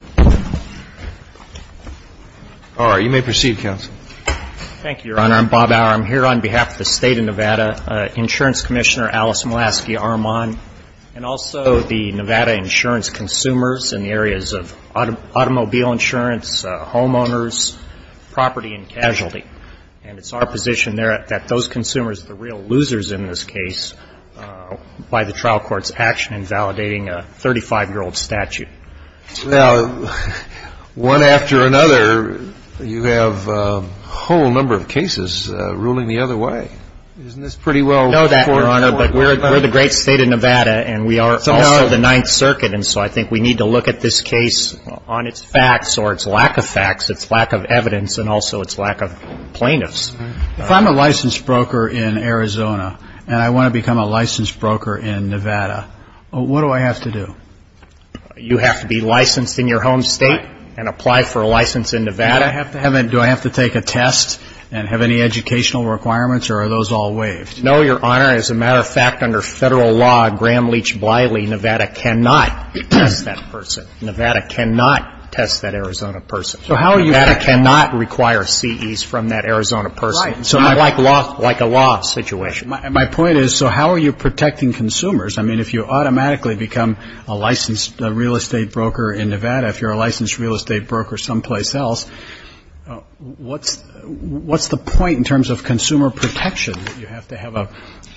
and also the Nevada insurance consumers in the areas of automobile insurance, homeowners, property, and casualty. And it's our position there that those consumers are the real losers in this case by the trial court's action in validating a 35-year-old statute. One after another, you have a whole number of cases ruling the other way. Isn't this pretty well- I know that, Your Honor, but we're the great state of Nevada, and we are also the Ninth Circuit. And so I think we need to look at this case on its facts or its lack of facts, its lack of evidence, and also its lack of plaintiffs. If I'm a licensed broker in Arizona and I want to become a licensed broker in Nevada, what do I have to do? You have to be licensed in your home state and apply for a license in Nevada. Do I have to take a test and have any educational requirements, or are those all waived? No, Your Honor. As a matter of fact, under federal law, Graham, Leach, Bliley, Nevada cannot test that person. Nevada cannot test that Arizona person. So how are you- Nevada cannot require CEs from that Arizona person. Right. Not like a law situation. My point is, so how are you protecting consumers? I mean, if you automatically become a licensed real estate broker in Nevada, if you're a licensed real estate broker someplace else, what's the point in terms of consumer protection that you have to have a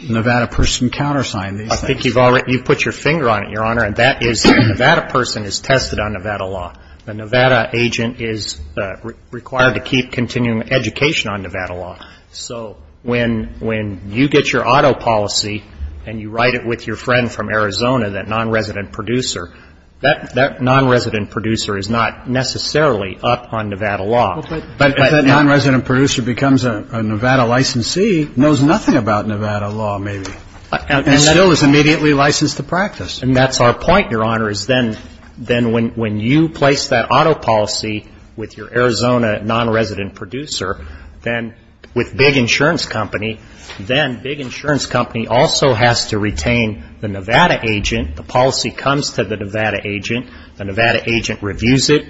Nevada person countersign these things? I think you've put your finger on it, Your Honor, and that is Nevada person is tested on Nevada law. The Nevada agent is required to keep continuing education on Nevada law. So when you get your auto policy and you write it with your friend from Arizona, that nonresident producer, that nonresident producer is not necessarily up on Nevada law. But if that nonresident producer becomes a Nevada licensee, knows nothing about Nevada law, maybe, and still is immediately licensed to practice. And that's our point, Your Honor, is then when you place that auto policy with your Arizona nonresident producer, then with Big Insurance Company, then Big Insurance Company also has to retain the Nevada agent. The policy comes to the Nevada agent. The Nevada agent reviews it.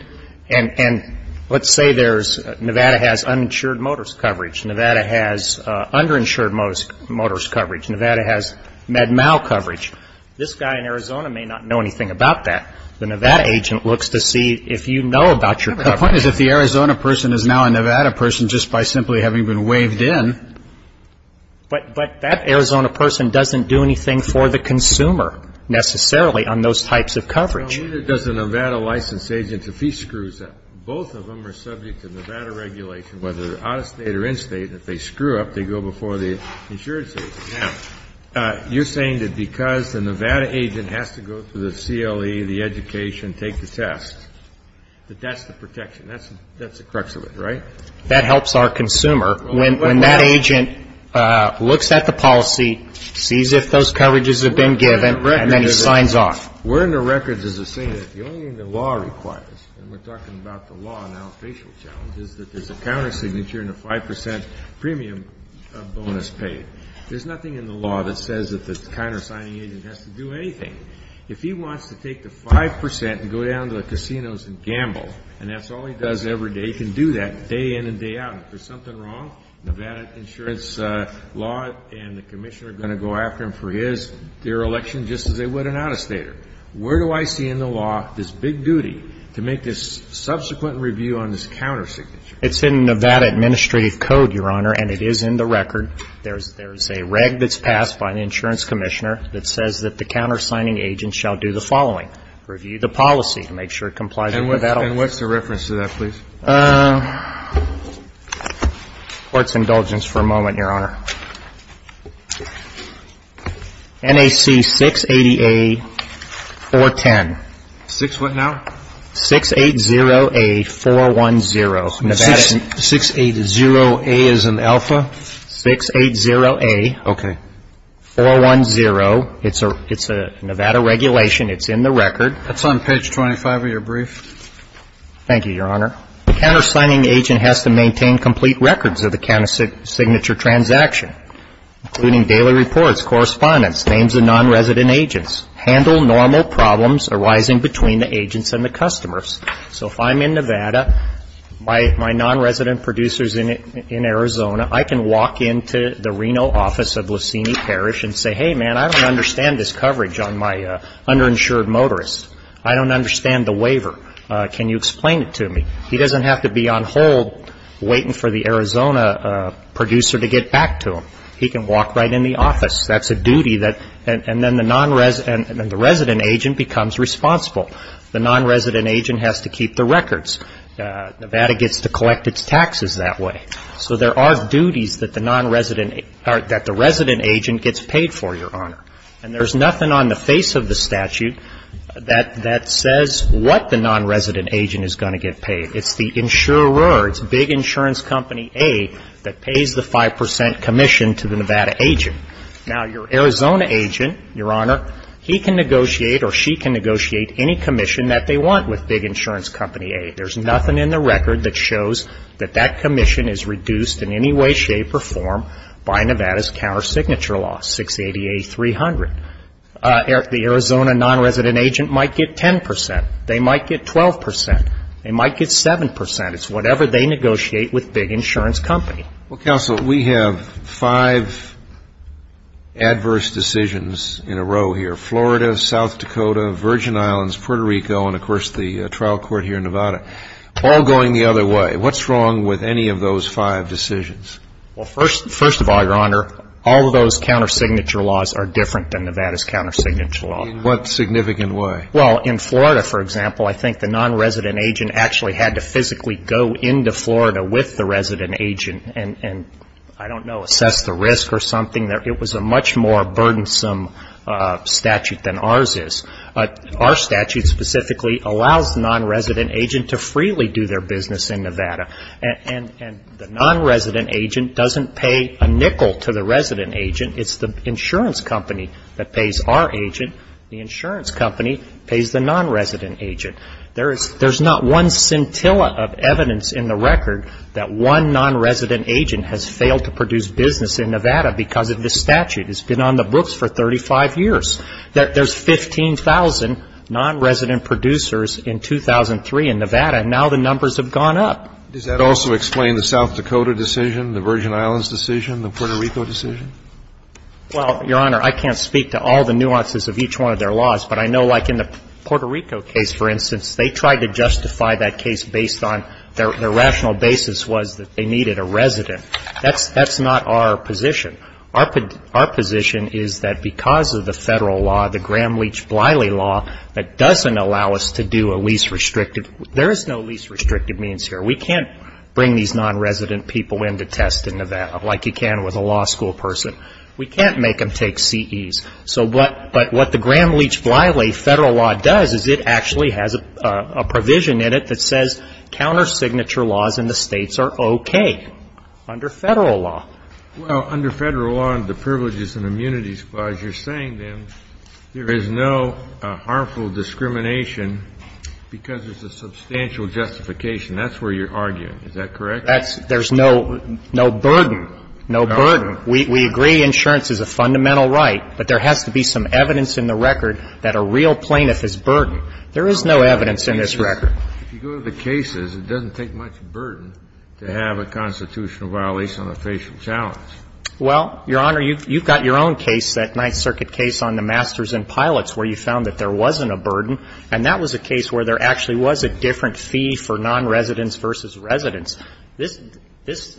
And let's say Nevada has uninsured motorist coverage. Nevada has underinsured motorist coverage. Nevada has MedMal coverage. This guy in Arizona may not know anything about that. The Nevada agent looks to see if you know about your coverage. The point is if the Arizona person is now a Nevada person just by simply having been waived in. But that Arizona person doesn't do anything for the consumer necessarily on those types of coverage. Neither does the Nevada license agent. If he screws up, both of them are subject to Nevada regulation, whether they're out of state or in state. If they screw up, they go before the insurance agency. Now, you're saying that because the Nevada agent has to go through the CLE, the education, take the test, that that's the protection, that's the crux of it, right? That helps our consumer. When that agent looks at the policy, sees if those coverages have been given, and then he signs off. We're in the records as a saying that the only thing the law requires, and we're talking about the law and now the facial challenge, is that there's a countersignature and a 5% premium bonus paid. There's nothing in the law that says that the countersigning agent has to do anything. If he wants to take the 5% and go down to the casinos and gamble, and that's all he does every day, he can do that day in and day out. If there's something wrong, Nevada insurance law and the commissioner are going to go after him for his, their election just as they would an out-of-stater. Where do I see in the law this big duty to make this subsequent review on this countersignature? It's in Nevada administrative code, Your Honor, and it is in the record. There's a reg that's passed by an insurance commissioner that says that the countersigning agent shall do the following. Review the policy to make sure it complies with Nevada law. And what's the reference to that, please? Court's indulgence for a moment, Your Honor. NAC 680A410. Six what now? 680A410. 680A is an alpha? 680A410. It's a Nevada regulation. It's in the record. That's on page 25 of your brief. Thank you, Your Honor. The countersigning agent has to maintain complete records of the countersignature transaction, including daily reports, correspondence, names of nonresident agents, handle normal problems arising between the agents and the customers. So if I'm in Nevada, my nonresident producer's in Arizona, I can walk into the Reno office of Lucini Parish and say, hey, man, I don't understand this coverage on my underinsured motorist. I don't understand the waiver. Can you explain it to me? He doesn't have to be on hold waiting for the Arizona producer to get back to him. He can walk right in the office. That's a duty that the resident agent becomes responsible. The nonresident agent has to keep the records. Nevada gets to collect its taxes that way. So there are duties that the resident agent gets paid for, Your Honor. And there's nothing on the face of the statute that says what the nonresident agent is going to get paid. It's the insurer. It's big insurance company A that pays the 5 percent commission to the Nevada agent. Now, your Arizona agent, Your Honor, he can negotiate or she can negotiate any commission that they want with big insurance company A. There's nothing in the record that shows that that commission is reduced in any way, shape or form by Nevada's counter signature law, 680A300. The Arizona nonresident agent might get 10 percent. They might get 12 percent. They might get 7 percent. It's whatever they negotiate with big insurance company. Well, Counsel, we have five adverse decisions in a row here. Florida, South Dakota, Virgin Islands, Puerto Rico, and, of course, the trial court here in Nevada, all going the other way. What's wrong with any of those five decisions? Well, first of all, Your Honor, all of those counter signature laws are different than Nevada's counter signature law. In what significant way? Well, in Florida, for example, I think the nonresident agent actually had to physically go into Florida with the resident agent and, I don't know, assess the risk or something. It was a much more burdensome statute than ours is. Our statute specifically allows the nonresident agent to freely do their business in Nevada. And the nonresident agent doesn't pay a nickel to the resident agent. It's the insurance company that pays our agent. The insurance company pays the nonresident agent. There's not one scintilla of evidence in the record that one nonresident agent has failed to produce business in Nevada because of this statute. It's been on the books for 35 years. There's 15,000 nonresident producers in 2003 in Nevada, and now the numbers have gone up. Does that also explain the South Dakota decision, the Virgin Islands decision, the Puerto Rico decision? Well, Your Honor, I can't speak to all the nuances of each one of their laws, but I know like in the Puerto Rico case, for instance, they tried to justify that case based on their rational basis was that they needed a resident. That's not our position. Our position is that because of the Federal law, the Gramm-Leach-Bliley law, that doesn't allow us to do a least restrictive. There is no least restrictive means here. We can't bring these nonresident people in to test in Nevada like you can with a law school person. We can't make them take CEs. But what the Gramm-Leach-Bliley Federal law does is it actually has a provision in it that says counter signature laws in the states are okay under Federal law. Well, under Federal law, under the Privileges and Immunities Clause, you're saying then there is no harmful discrimination because there's a substantial justification. That's where you're arguing. Is that correct? There's no burden. No burden. We agree insurance is a fundamental right, but there has to be some evidence in the record that a real plaintiff is burdened. There is no evidence in this record. If you go to the cases, it doesn't take much burden to have a constitutional violation on a facial challenge. Well, Your Honor, you've got your own case, that Ninth Circuit case on the masters and pilots where you found that there wasn't a burden, and that was a case where there actually was a different fee for nonresidents versus residents. This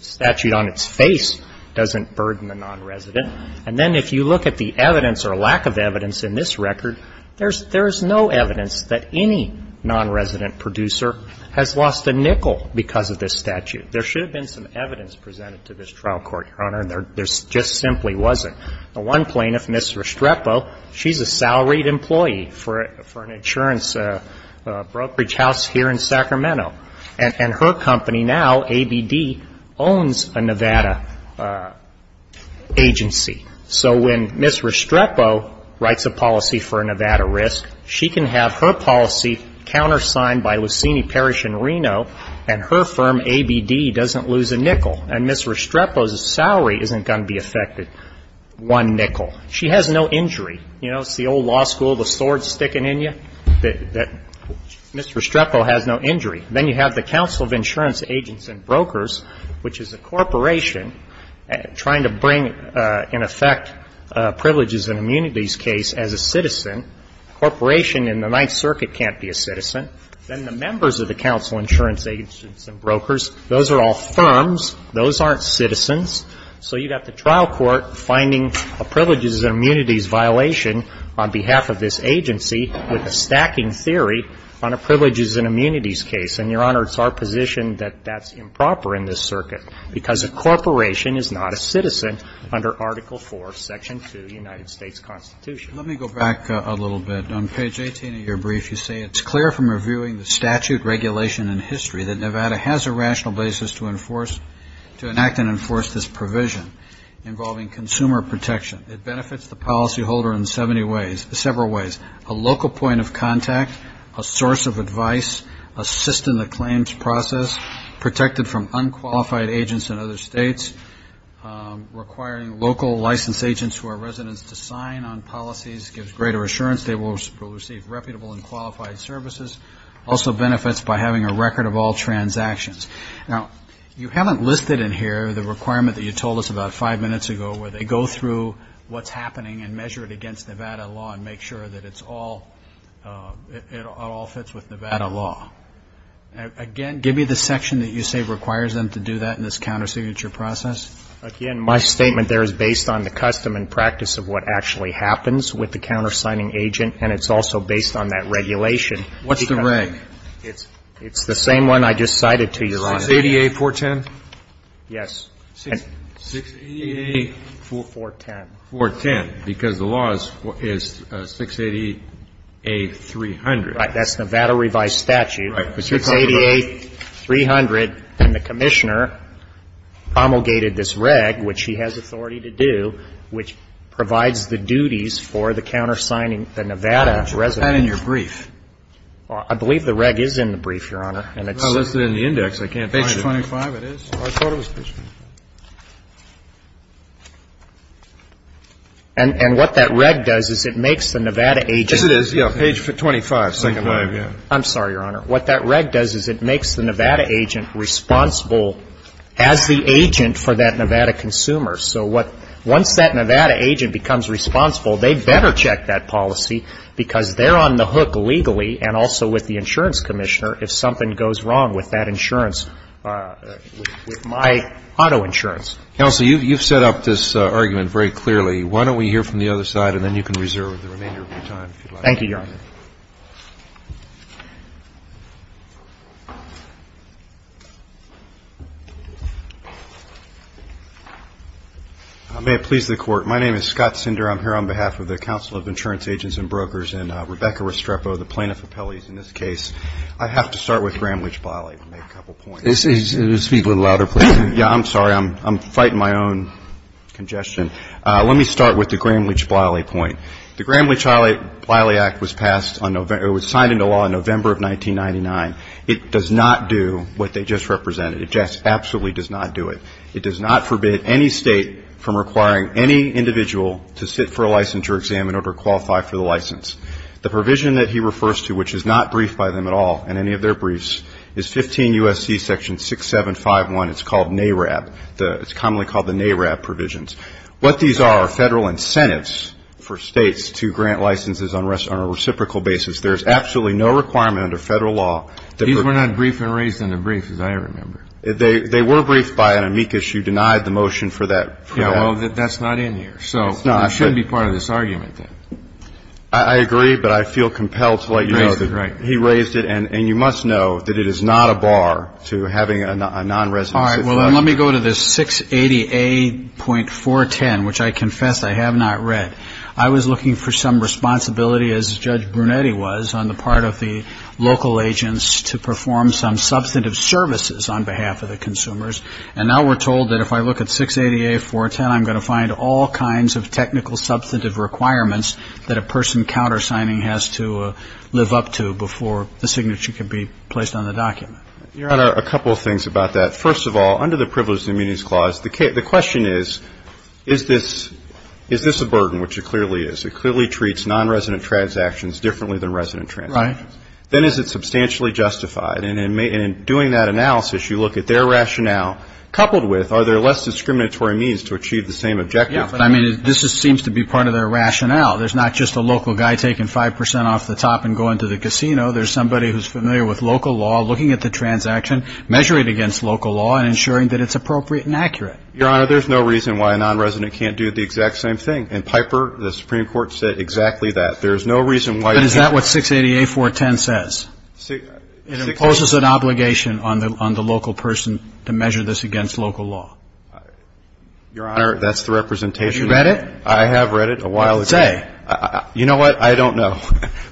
statute on its face doesn't burden the nonresident. And then if you look at the evidence or lack of evidence in this record, there's no evidence that any nonresident producer has lost a nickel because of this statute. There should have been some evidence presented to this trial court, Your Honor, and there just simply wasn't. One plaintiff, Ms. Restrepo, she's a salaried employee for an insurance brokerage house here in Sacramento. And her company now, ABD, owns a Nevada agency. So when Ms. Restrepo writes a policy for a Nevada risk, she can have her policy countersigned by Lucini Parish in Reno and her firm, ABD, doesn't lose a nickel. And Ms. Restrepo's salary isn't going to be affected. One nickel. She has no injury. You know, it's the old law school, the sword sticking in you, that Ms. Restrepo has no injury. Then you have the Council of Insurance Agents and Brokers, which is a corporation trying to bring in effect privileges and immunities case as a citizen. A corporation in the Ninth Circuit can't be a citizen. Then the members of the Council of Insurance Agents and Brokers, those are all firms. Those aren't citizens. So you've got the trial court finding a privileges and immunities violation on behalf of this agency with a stacking theory on a privileges and immunities case. And, Your Honor, it's our position that that's improper in this circuit because a corporation is not a citizen under Article IV, Section 2, United States Constitution. Let me go back a little bit. On page 18 of your brief, you say it's clear from reviewing the statute, regulation and history that Nevada has a rational basis to enact and enforce this provision involving consumer protection. It benefits the policyholder in several ways, a local point of contact, a source of advice, assist in the claims process, protected from unqualified agents in other states, requiring local licensed agents who are residents to sign on policies, gives greater assurance they will receive reputable and qualified services. Also benefits by having a record of all transactions. Now, you haven't listed in here the requirement that you told us about five minutes ago where they go through what's happening and measure it against Nevada law and make sure that it's all, it all fits with Nevada law. Again, give me the section that you say requires them to do that in this countersignature process. Again, my statement there is based on the custom and practice of what actually happens with the countersigning agent, and it's also based on that regulation. What's the reg? It's the same one I just cited to you, Your Honor. 680-A-410? Yes. 680-A-410. 410, because the law is 680-A-300. Right. That's Nevada revised statute. Right. 680-A-300, and the Commissioner promulgated this reg, which he has authority to do, which provides the duties for the countersigning, the Nevada residents. I believe the reg is in the brief, Your Honor. It's not listed in the index. I can't find it. Page 25 it is. I thought it was. And what that reg does is it makes the Nevada agent. Yes, it is. Page 25, second line. I'm sorry, Your Honor. What that reg does is it makes the Nevada agent responsible as the agent for that Nevada consumer. So what, once that Nevada agent becomes responsible, they better check that policy because they're on the hook legally and also with the insurance commissioner if something goes wrong with that insurance, with my auto insurance. Counsel, you've set up this argument very clearly. Why don't we hear from the other side, and then you can reserve the remainder of your time. Thank you, Your Honor. May it please the Court. My name is Scott Sinder. I'm here on behalf of the Council of Insurance Agents and Brokers and Rebecca Restrepo, the plaintiff appellee in this case. I have to start with Gramm-Leach-Bliley to make a couple points. Speak a little louder, please. Yeah, I'm sorry. I'm fighting my own congestion. Let me start with the Gramm-Leach-Bliley point. The Gramm-Leach-Bliley Act was signed into law in November of 1999. It does not do what they just represented. It just absolutely does not do it. It does not forbid any State from requiring any individual to sit for a licensure exam in order to qualify for the license. The provision that he refers to, which is not briefed by them at all in any of their briefs, is 15 U.S.C. section 6751. It's called NARAB. It's commonly called the NARAB provisions. What these are are Federal incentives for States to grant licenses on a reciprocal basis. There's absolutely no requirement under Federal law. These were not briefed and raised in a brief, as I remember. They were briefed by an amicus. You denied the motion for that. Yeah, well, that's not in here. So it shouldn't be part of this argument, then. I agree, but I feel compelled to let you know that he raised it, and you must know that it is not a bar to having a non-residency. All right. Well, let me go to this 680A.410, which I confess I have not read. I was looking for some responsibility, as Judge Brunetti was, on the part of the local agents to perform some substantive services on behalf of the consumers. And now we're told that if I look at 680A.410, I'm going to find all kinds of technical substantive requirements that a person countersigning has to live up to before the signature can be placed on the document. Your Honor, a couple of things about that. First of all, under the Privileged Immunities Clause, the question is, is this a burden, which it clearly is. It clearly treats non-resident transactions differently than resident transactions. Right. Then is it substantially justified? And in doing that analysis, you look at their rationale, coupled with, are there less discriminatory means to achieve the same objective? Yeah, but I mean, this seems to be part of their rationale. There's not just a local guy taking 5 percent off the top and going to the casino. There's somebody who's familiar with local law, looking at the transaction, measuring it against local law, and ensuring that it's appropriate and accurate. Your Honor, there's no reason why a non-resident can't do the exact same thing. In Piper, the Supreme Court said exactly that. There's no reason why you can't. But is that what 680A410 says? It imposes an obligation on the local person to measure this against local law. Your Honor, that's the representation. Have you read it? I have read it a while ago. Say. You know what? I don't know.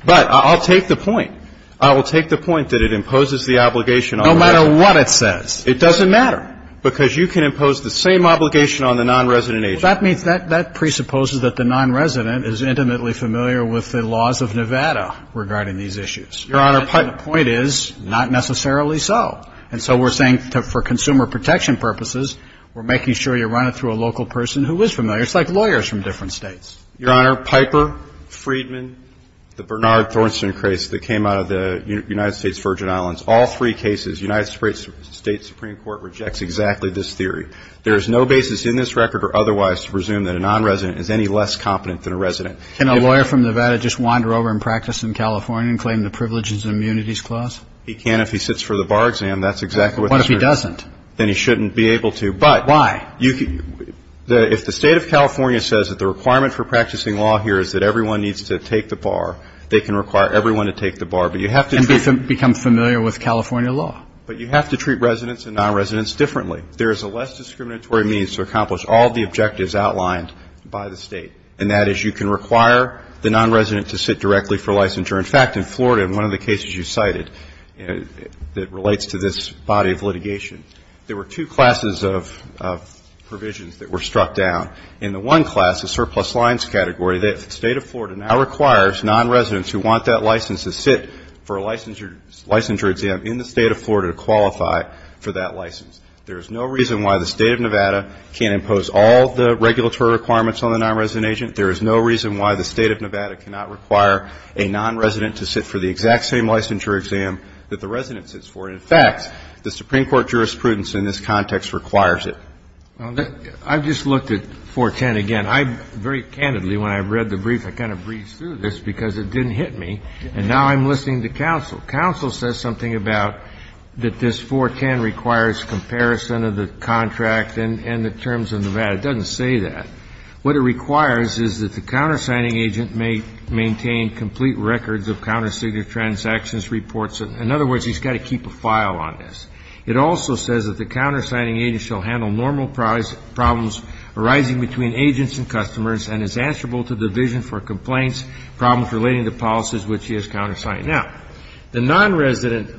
But I'll take the point. I will take the point that it imposes the obligation on the local person. No matter what it says. It doesn't matter, because you can impose the same obligation on the non-resident agent. So that means that presupposes that the non-resident is intimately familiar with the laws of Nevada regarding these issues. Your Honor, Piper. But the point is, not necessarily so. And so we're saying for consumer protection purposes, we're making sure you run it through a local person who is familiar. It's like lawyers from different states. Your Honor, Piper, Friedman, the Bernard Thornston case that came out of the United States Virgin Islands, all three cases, United States Supreme Court rejects exactly this theory. There is no basis in this record or otherwise to presume that a non-resident is any less competent than a resident. Can a lawyer from Nevada just wander over and practice in California and claim the privileges and immunities clause? He can if he sits for the bar exam. That's exactly what this is. What if he doesn't? Then he shouldn't be able to. But. Why? If the State of California says that the requirement for practicing law here is that everyone needs to take the bar, they can require everyone to take the bar. But you have to treat. And become familiar with California law. But you have to treat residents and non-residents differently. There is a less discriminatory means to accomplish all the objectives outlined by the State. And that is you can require the non-resident to sit directly for licensure. In fact, in Florida, in one of the cases you cited that relates to this body of litigation, there were two classes of provisions that were struck down. In the one class, the surplus lines category, the State of Florida now requires non-residents who want that license to sit for a licensure exam in the State of Florida to qualify for that license. There is no reason why the State of Nevada can't impose all the regulatory requirements on the non-resident agent. There is no reason why the State of Nevada cannot require a non-resident to sit for the exact same licensure exam that the resident sits for. In fact, the Supreme Court jurisprudence in this context requires it. I just looked at 410 again. I very candidly, when I read the brief, I kind of breezed through this because it didn't hit me. And now I'm listening to counsel. Counsel says something about that this 410 requires comparison of the contract and the terms of Nevada. It doesn't say that. What it requires is that the countersigning agent may maintain complete records of countersignature transactions reports. In other words, he's got to keep a file on this. It also says that the countersigning agent shall handle normal problems arising between agents and customers and is answerable to division for complaints, problems relating to policies which he has countersigned. Now, the non-resident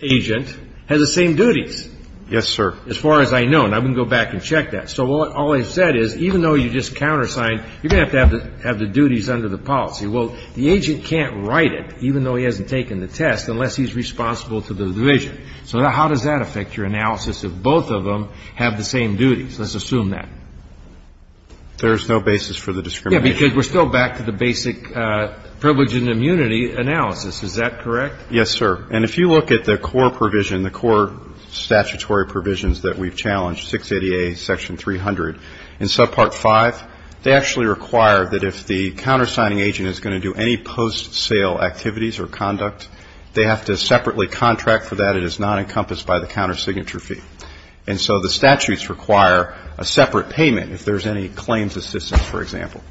agent has the same duties. Yes, sir. As far as I know. And I'm going to go back and check that. So all I've said is even though you just countersigned, you're going to have to have the duties under the policy. Well, the agent can't write it, even though he hasn't taken the test, unless he's responsible to the division. So how does that affect your analysis if both of them have the same duties? Let's assume that. There is no basis for the discrimination. Yes, because we're still back to the basic privilege and immunity analysis. Is that correct? Yes, sir. And if you look at the core provision, the core statutory provisions that we've challenged, 680A, section 300, in subpart 5, they actually require that if the countersigning agent is going to do any post-sale activities or conduct, they have to separately contract for that. It is not encompassed by the countersignature fee. And so the statutes require a separate payment if there's any claims assistance, for example.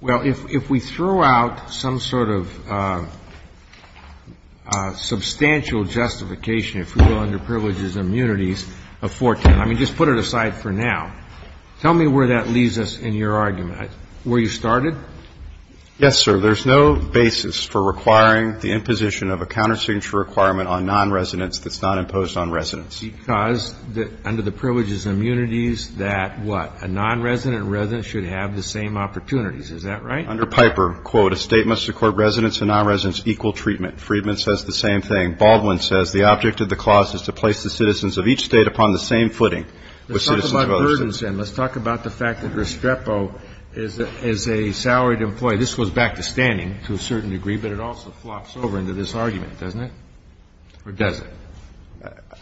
Well, if we throw out some sort of substantial justification if we go under privileges and immunities of 410, I mean, just put it aside for now. Tell me where that leaves us in your argument. Where you started? Yes, sir. There's no basis for requiring the imposition of a countersignature requirement on nonresidents that's not imposed on residents. Because under the privileges and immunities that what? A nonresident and resident should have the same opportunities. Is that right? Under Piper, quote, a State must accord residents and nonresidents equal treatment. Friedman says the same thing. Baldwin says the object of the clause is to place the citizens of each State upon the same footing with citizens of others. Let's talk about burdens then. Let's talk about the fact that Restrepo is a salaried employee. This goes back to standing to a certain degree, but it also flops over into this argument, doesn't it? Or does it?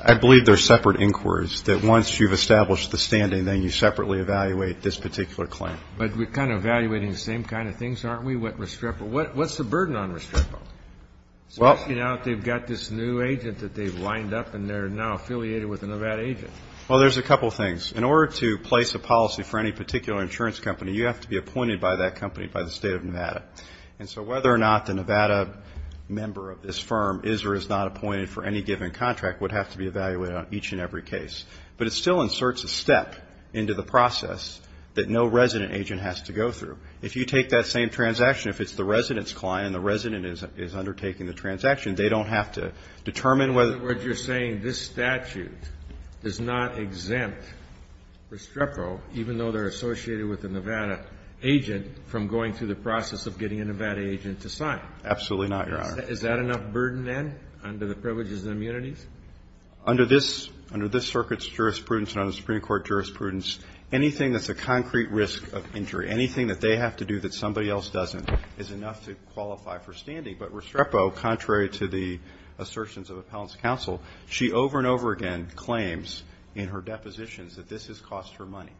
I believe they're separate inquiries, that once you've established the standing, then you separately evaluate this particular claim. But we're kind of evaluating the same kind of things, aren't we, with Restrepo? What's the burden on Restrepo? Well. They've got this new agent that they've lined up, and they're now affiliated with a Nevada agent. Well, there's a couple things. In order to place a policy for any particular insurance company, you have to be appointed by that company by the State of Nevada. And so whether or not the Nevada member of this firm is or is not appointed for any given contract would have to be evaluated on each and every case. But it still inserts a step into the process that no resident agent has to go through. If you take that same transaction, if it's the resident's client and the resident is undertaking the transaction, they don't have to determine whether. In other words, you're saying this statute does not exempt Restrepo, even though they're associated with a Nevada agent, from going through the process of getting a Nevada agent to sign. Absolutely not, Your Honor. Is that enough burden, then, under the privileges and immunities? Under this circuit's jurisprudence and under the Supreme Court jurisprudence, anything that's a concrete risk of injury, anything that they have to do that somebody else doesn't, is enough to qualify for standing. But Restrepo, contrary to the assertions of appellants counsel, she over and over again claims in her depositions that this has cost her money.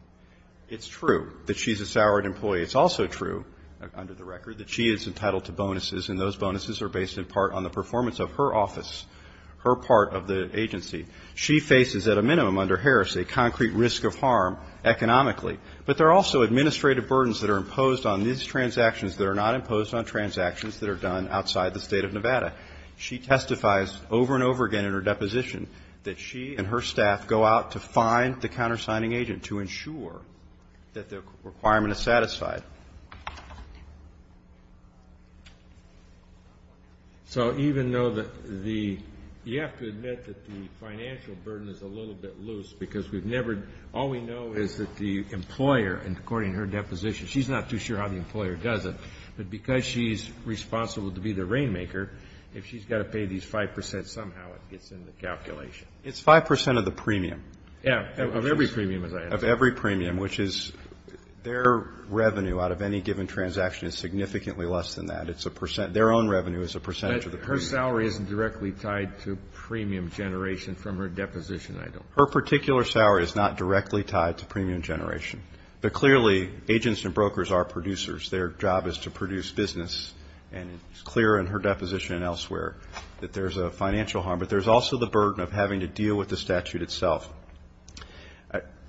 It's true that she's a salaried employee. It's also true, under the record, that she is entitled to bonuses, and those bonuses are based in part on the performance of her office. Her part of the agency. She faces, at a minimum, under Harris, a concrete risk of harm economically. But there are also administrative burdens that are imposed on these transactions that are not imposed on transactions that are done outside the State of Nevada. She testifies over and over again in her deposition that she and her staff go out to find So even though the, you have to admit that the financial burden is a little bit loose, because we've never, all we know is that the employer, and according to her deposition, she's not too sure how the employer does it. But because she's responsible to be the rainmaker, if she's got to pay these 5%, somehow it gets in the calculation. It's 5% of the premium. Yeah, of every premium as I understand it. Of every premium, which is, their revenue out of any given transaction is significantly less than that. It's a percent, their own revenue is a percentage of the premium. But her salary isn't directly tied to premium generation from her deposition, I don't think. Her particular salary is not directly tied to premium generation. But clearly, agents and brokers are producers. Their job is to produce business, and it's clear in her deposition and elsewhere that there's a financial harm. But there's also the burden of having to deal with the statute itself.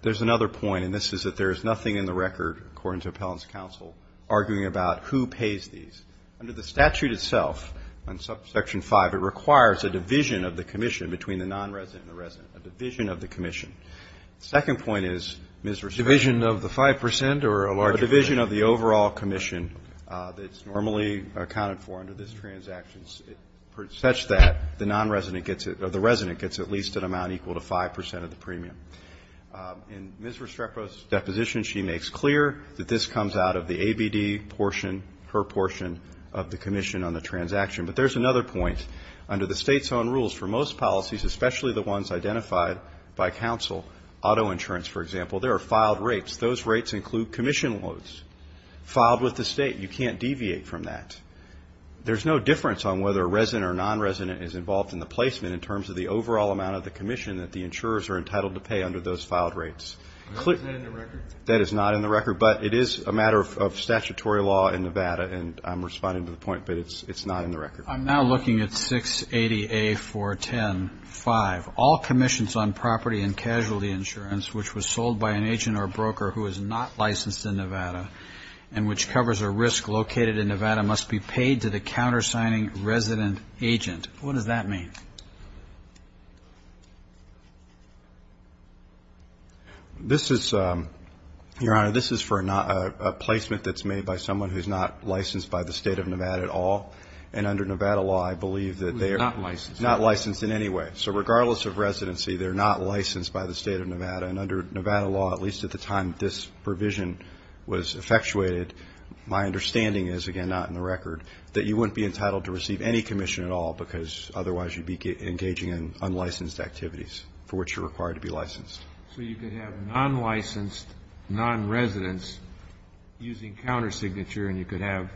There's another point, and this is that there is nothing in the record, according to Appellant's counsel, arguing about who pays these. Under the statute itself, on Section 5, it requires a division of the commission between the non-resident and the resident, a division of the commission. The second point is, Ms. Rousseau. A division of the 5% or a larger? A division of the overall commission that's normally accounted for under this transaction, such that the non-resident gets it, or the resident gets at least an amount equal to 5% of the premium. In Ms. Restrepo's deposition, she makes clear that this comes out of the ABD portion, her portion of the commission on the transaction. But there's another point. Under the state's own rules, for most policies, especially the ones identified by counsel, auto insurance, for example, there are filed rates. Those rates include commission loads. Filed with the state, you can't deviate from that. There's no difference on whether a resident or non-resident is involved in the placement in terms of the overall amount of the commission that the insurers are entitled to pay under those filed rates. Is that in the record? That is not in the record. But it is a matter of statutory law in Nevada, and I'm responding to the point, but it's not in the record. I'm now looking at 680A410.5. All commissions on property and casualty insurance, which was sold by an agent or broker who is not licensed in Nevada and which covers a risk located in Nevada, must be paid to the countersigning resident agent. What does that mean? This is, Your Honor, this is for a placement that's made by someone who's not licensed by the State of Nevada at all. And under Nevada law, I believe that they are not licensed in any way. So regardless of residency, they're not licensed by the State of Nevada. And under Nevada law, at least at the time this provision was effectuated, my understanding is, again, not in the record, that you wouldn't be entitled to receive any commission at all because otherwise you'd be engaging in unlicensed activities for which you're required to be licensed. So you could have non-licensed non-residents using countersignature, and you could have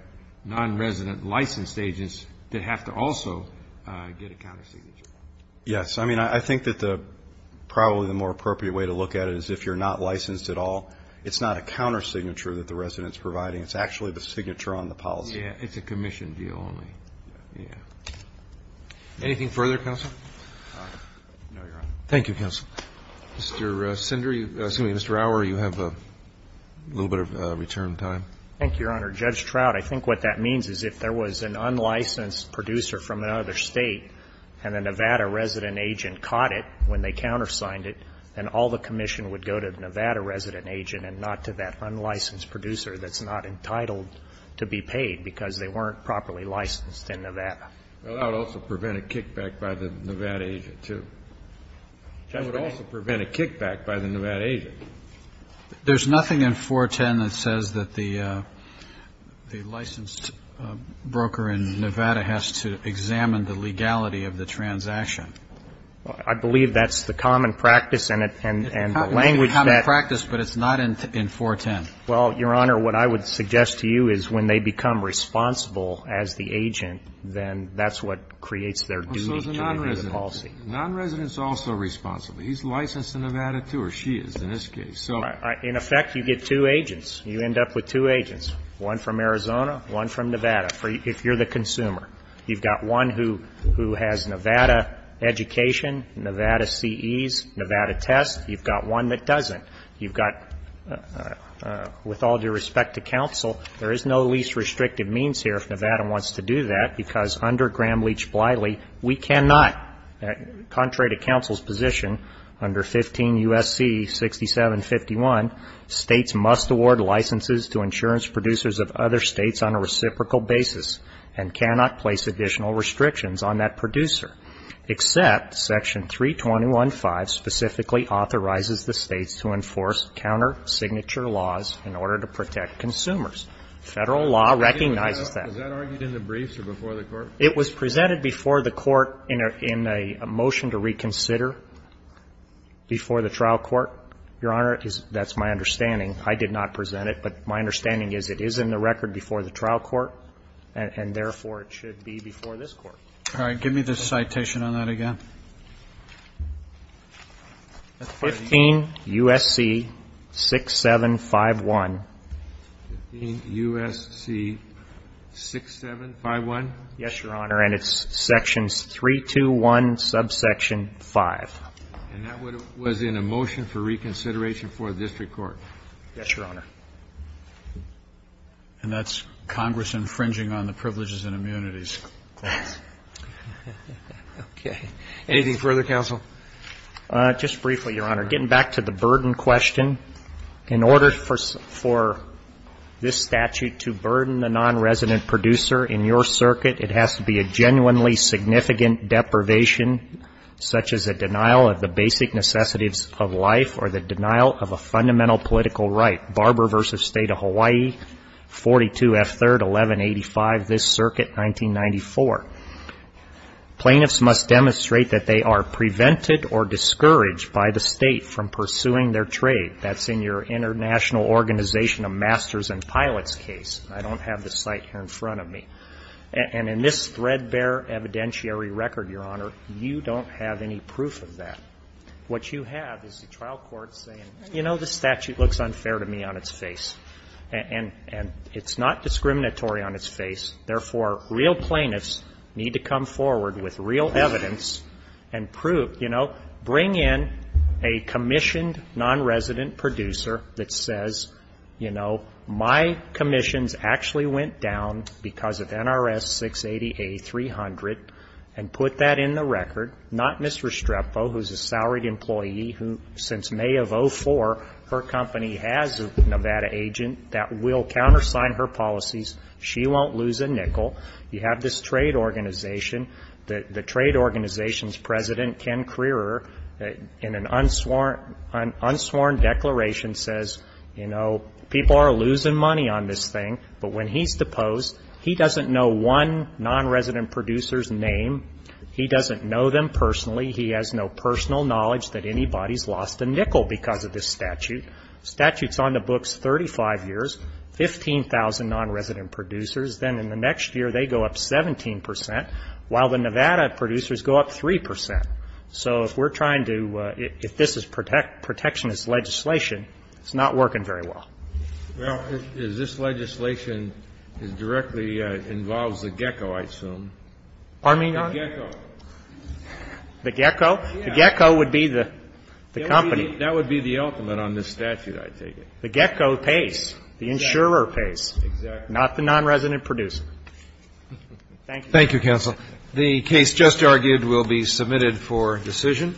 non-resident licensed agents that have to also get a countersignature. Yes. I mean, I think that probably the more appropriate way to look at it is if you're not licensed at all, it's not a countersignature that the resident's providing. It's actually the signature on the policy. Yeah, it's a commission deal only. Yeah. Anything further, Counsel? No, Your Honor. Thank you, Counsel. Mr. Sender, excuse me, Mr. Auer, you have a little bit of return time. Thank you, Your Honor. Judge Trout, I think what that means is if there was an unlicensed producer from another state and a Nevada resident agent caught it when they countersigned it, then all the commission would go to the Nevada resident agent and not to that unlicensed producer that's not entitled to be paid because they weren't properly licensed in Nevada. Well, that would also prevent a kickback by the Nevada agent, too. That would also prevent a kickback by the Nevada agent. There's nothing in 410 that says that the licensed broker in Nevada has to examine the legality of the transaction. I believe that's the common practice and the language that ---- It's a common practice, but it's not in 410. Well, Your Honor, what I would suggest to you is when they become responsible as the agent, then that's what creates their duty to review the policy. So is the nonresident. The nonresident is also responsible. He's licensed in Nevada, too, or she is in this case. In effect, you get two agents. You end up with two agents, one from Arizona, one from Nevada. If you're the consumer, you've got one who has Nevada education, Nevada CEs, Nevada tests. You've got one that doesn't. You've got, with all due respect to counsel, there is no least restrictive means here if Nevada wants to do that because under Graham-Leach-Bliley, we cannot, contrary to counsel's position under 15 U.S.C. 6751, states must award licenses to insurance producers of other states on a reciprocal basis and cannot place additional restrictions on that producer except Section 321.5 specifically authorizes the states to enforce counter signature laws in order to protect consumers. Federal law recognizes that. Was that argued in the briefs or before the court? It was presented before the court in a motion to reconsider before the trial court, Your Honor. That's my understanding. I did not present it, but my understanding is it is in the record before the trial court, and therefore it should be before this Court. All right. Give me the citation on that again. 15 U.S.C. 6751. 15 U.S.C. 6751? Yes, Your Honor. And it's Section 321, subsection 5. And that was in a motion for reconsideration before the district court. Yes, Your Honor. And that's Congress infringing on the privileges and immunities. Okay. Anything further, counsel? Just briefly, Your Honor. Getting back to the burden question, in order for this statute to burden a nonresident producer in your circuit, it has to be a genuinely significant deprivation, such as a denial of the basic necessities of life or the denial of a fundamental political right. Barber v. State of Hawaii, 42 F. 3rd, 1185, this circuit, 1994. Plaintiffs must demonstrate that they are prevented or discouraged by the state from pursuing their trade. That's in your International Organization of Masters and Pilots case. I don't have the site here in front of me. And in this threadbare evidentiary record, Your Honor, you don't have any proof of that. What you have is the trial court saying, you know, this statute looks unfair to me on its face. And it's not discriminatory on its face. Therefore, real plaintiffs need to come forward with real evidence and prove, you know, bring in a commissioned nonresident producer that says, you know, my commissions actually went down because of NRS 680A 300, and put that in the record. Not Ms. Restrepo, who's a salaried employee who, since May of 2004, her company has a Nevada agent that will countersign her policies. She won't lose a nickel. You have this trade organization. The trade organization's president, Ken Creerer, in an unsworn declaration, says, you know, people are losing money on this thing. But when he's deposed, he doesn't know one nonresident producer's name. He doesn't know them personally. He has no personal knowledge that anybody's lost a nickel because of this statute. Statute's on the books 35 years, 15,000 nonresident producers. Then in the next year, they go up 17 percent, while the Nevada producers go up 3 percent. So if we're trying to, if this is protectionist legislation, it's not working very well. Well, if this legislation directly involves the gecko, I assume. Pardon me, Your Honor? The gecko. The gecko? The gecko would be the company. That would be the ultimate on this statute, I take it. The gecko pays. The insurer pays. Exactly. The insurer, not the nonresident producer. Thank you. Thank you, counsel. The case just argued will be submitted for decision.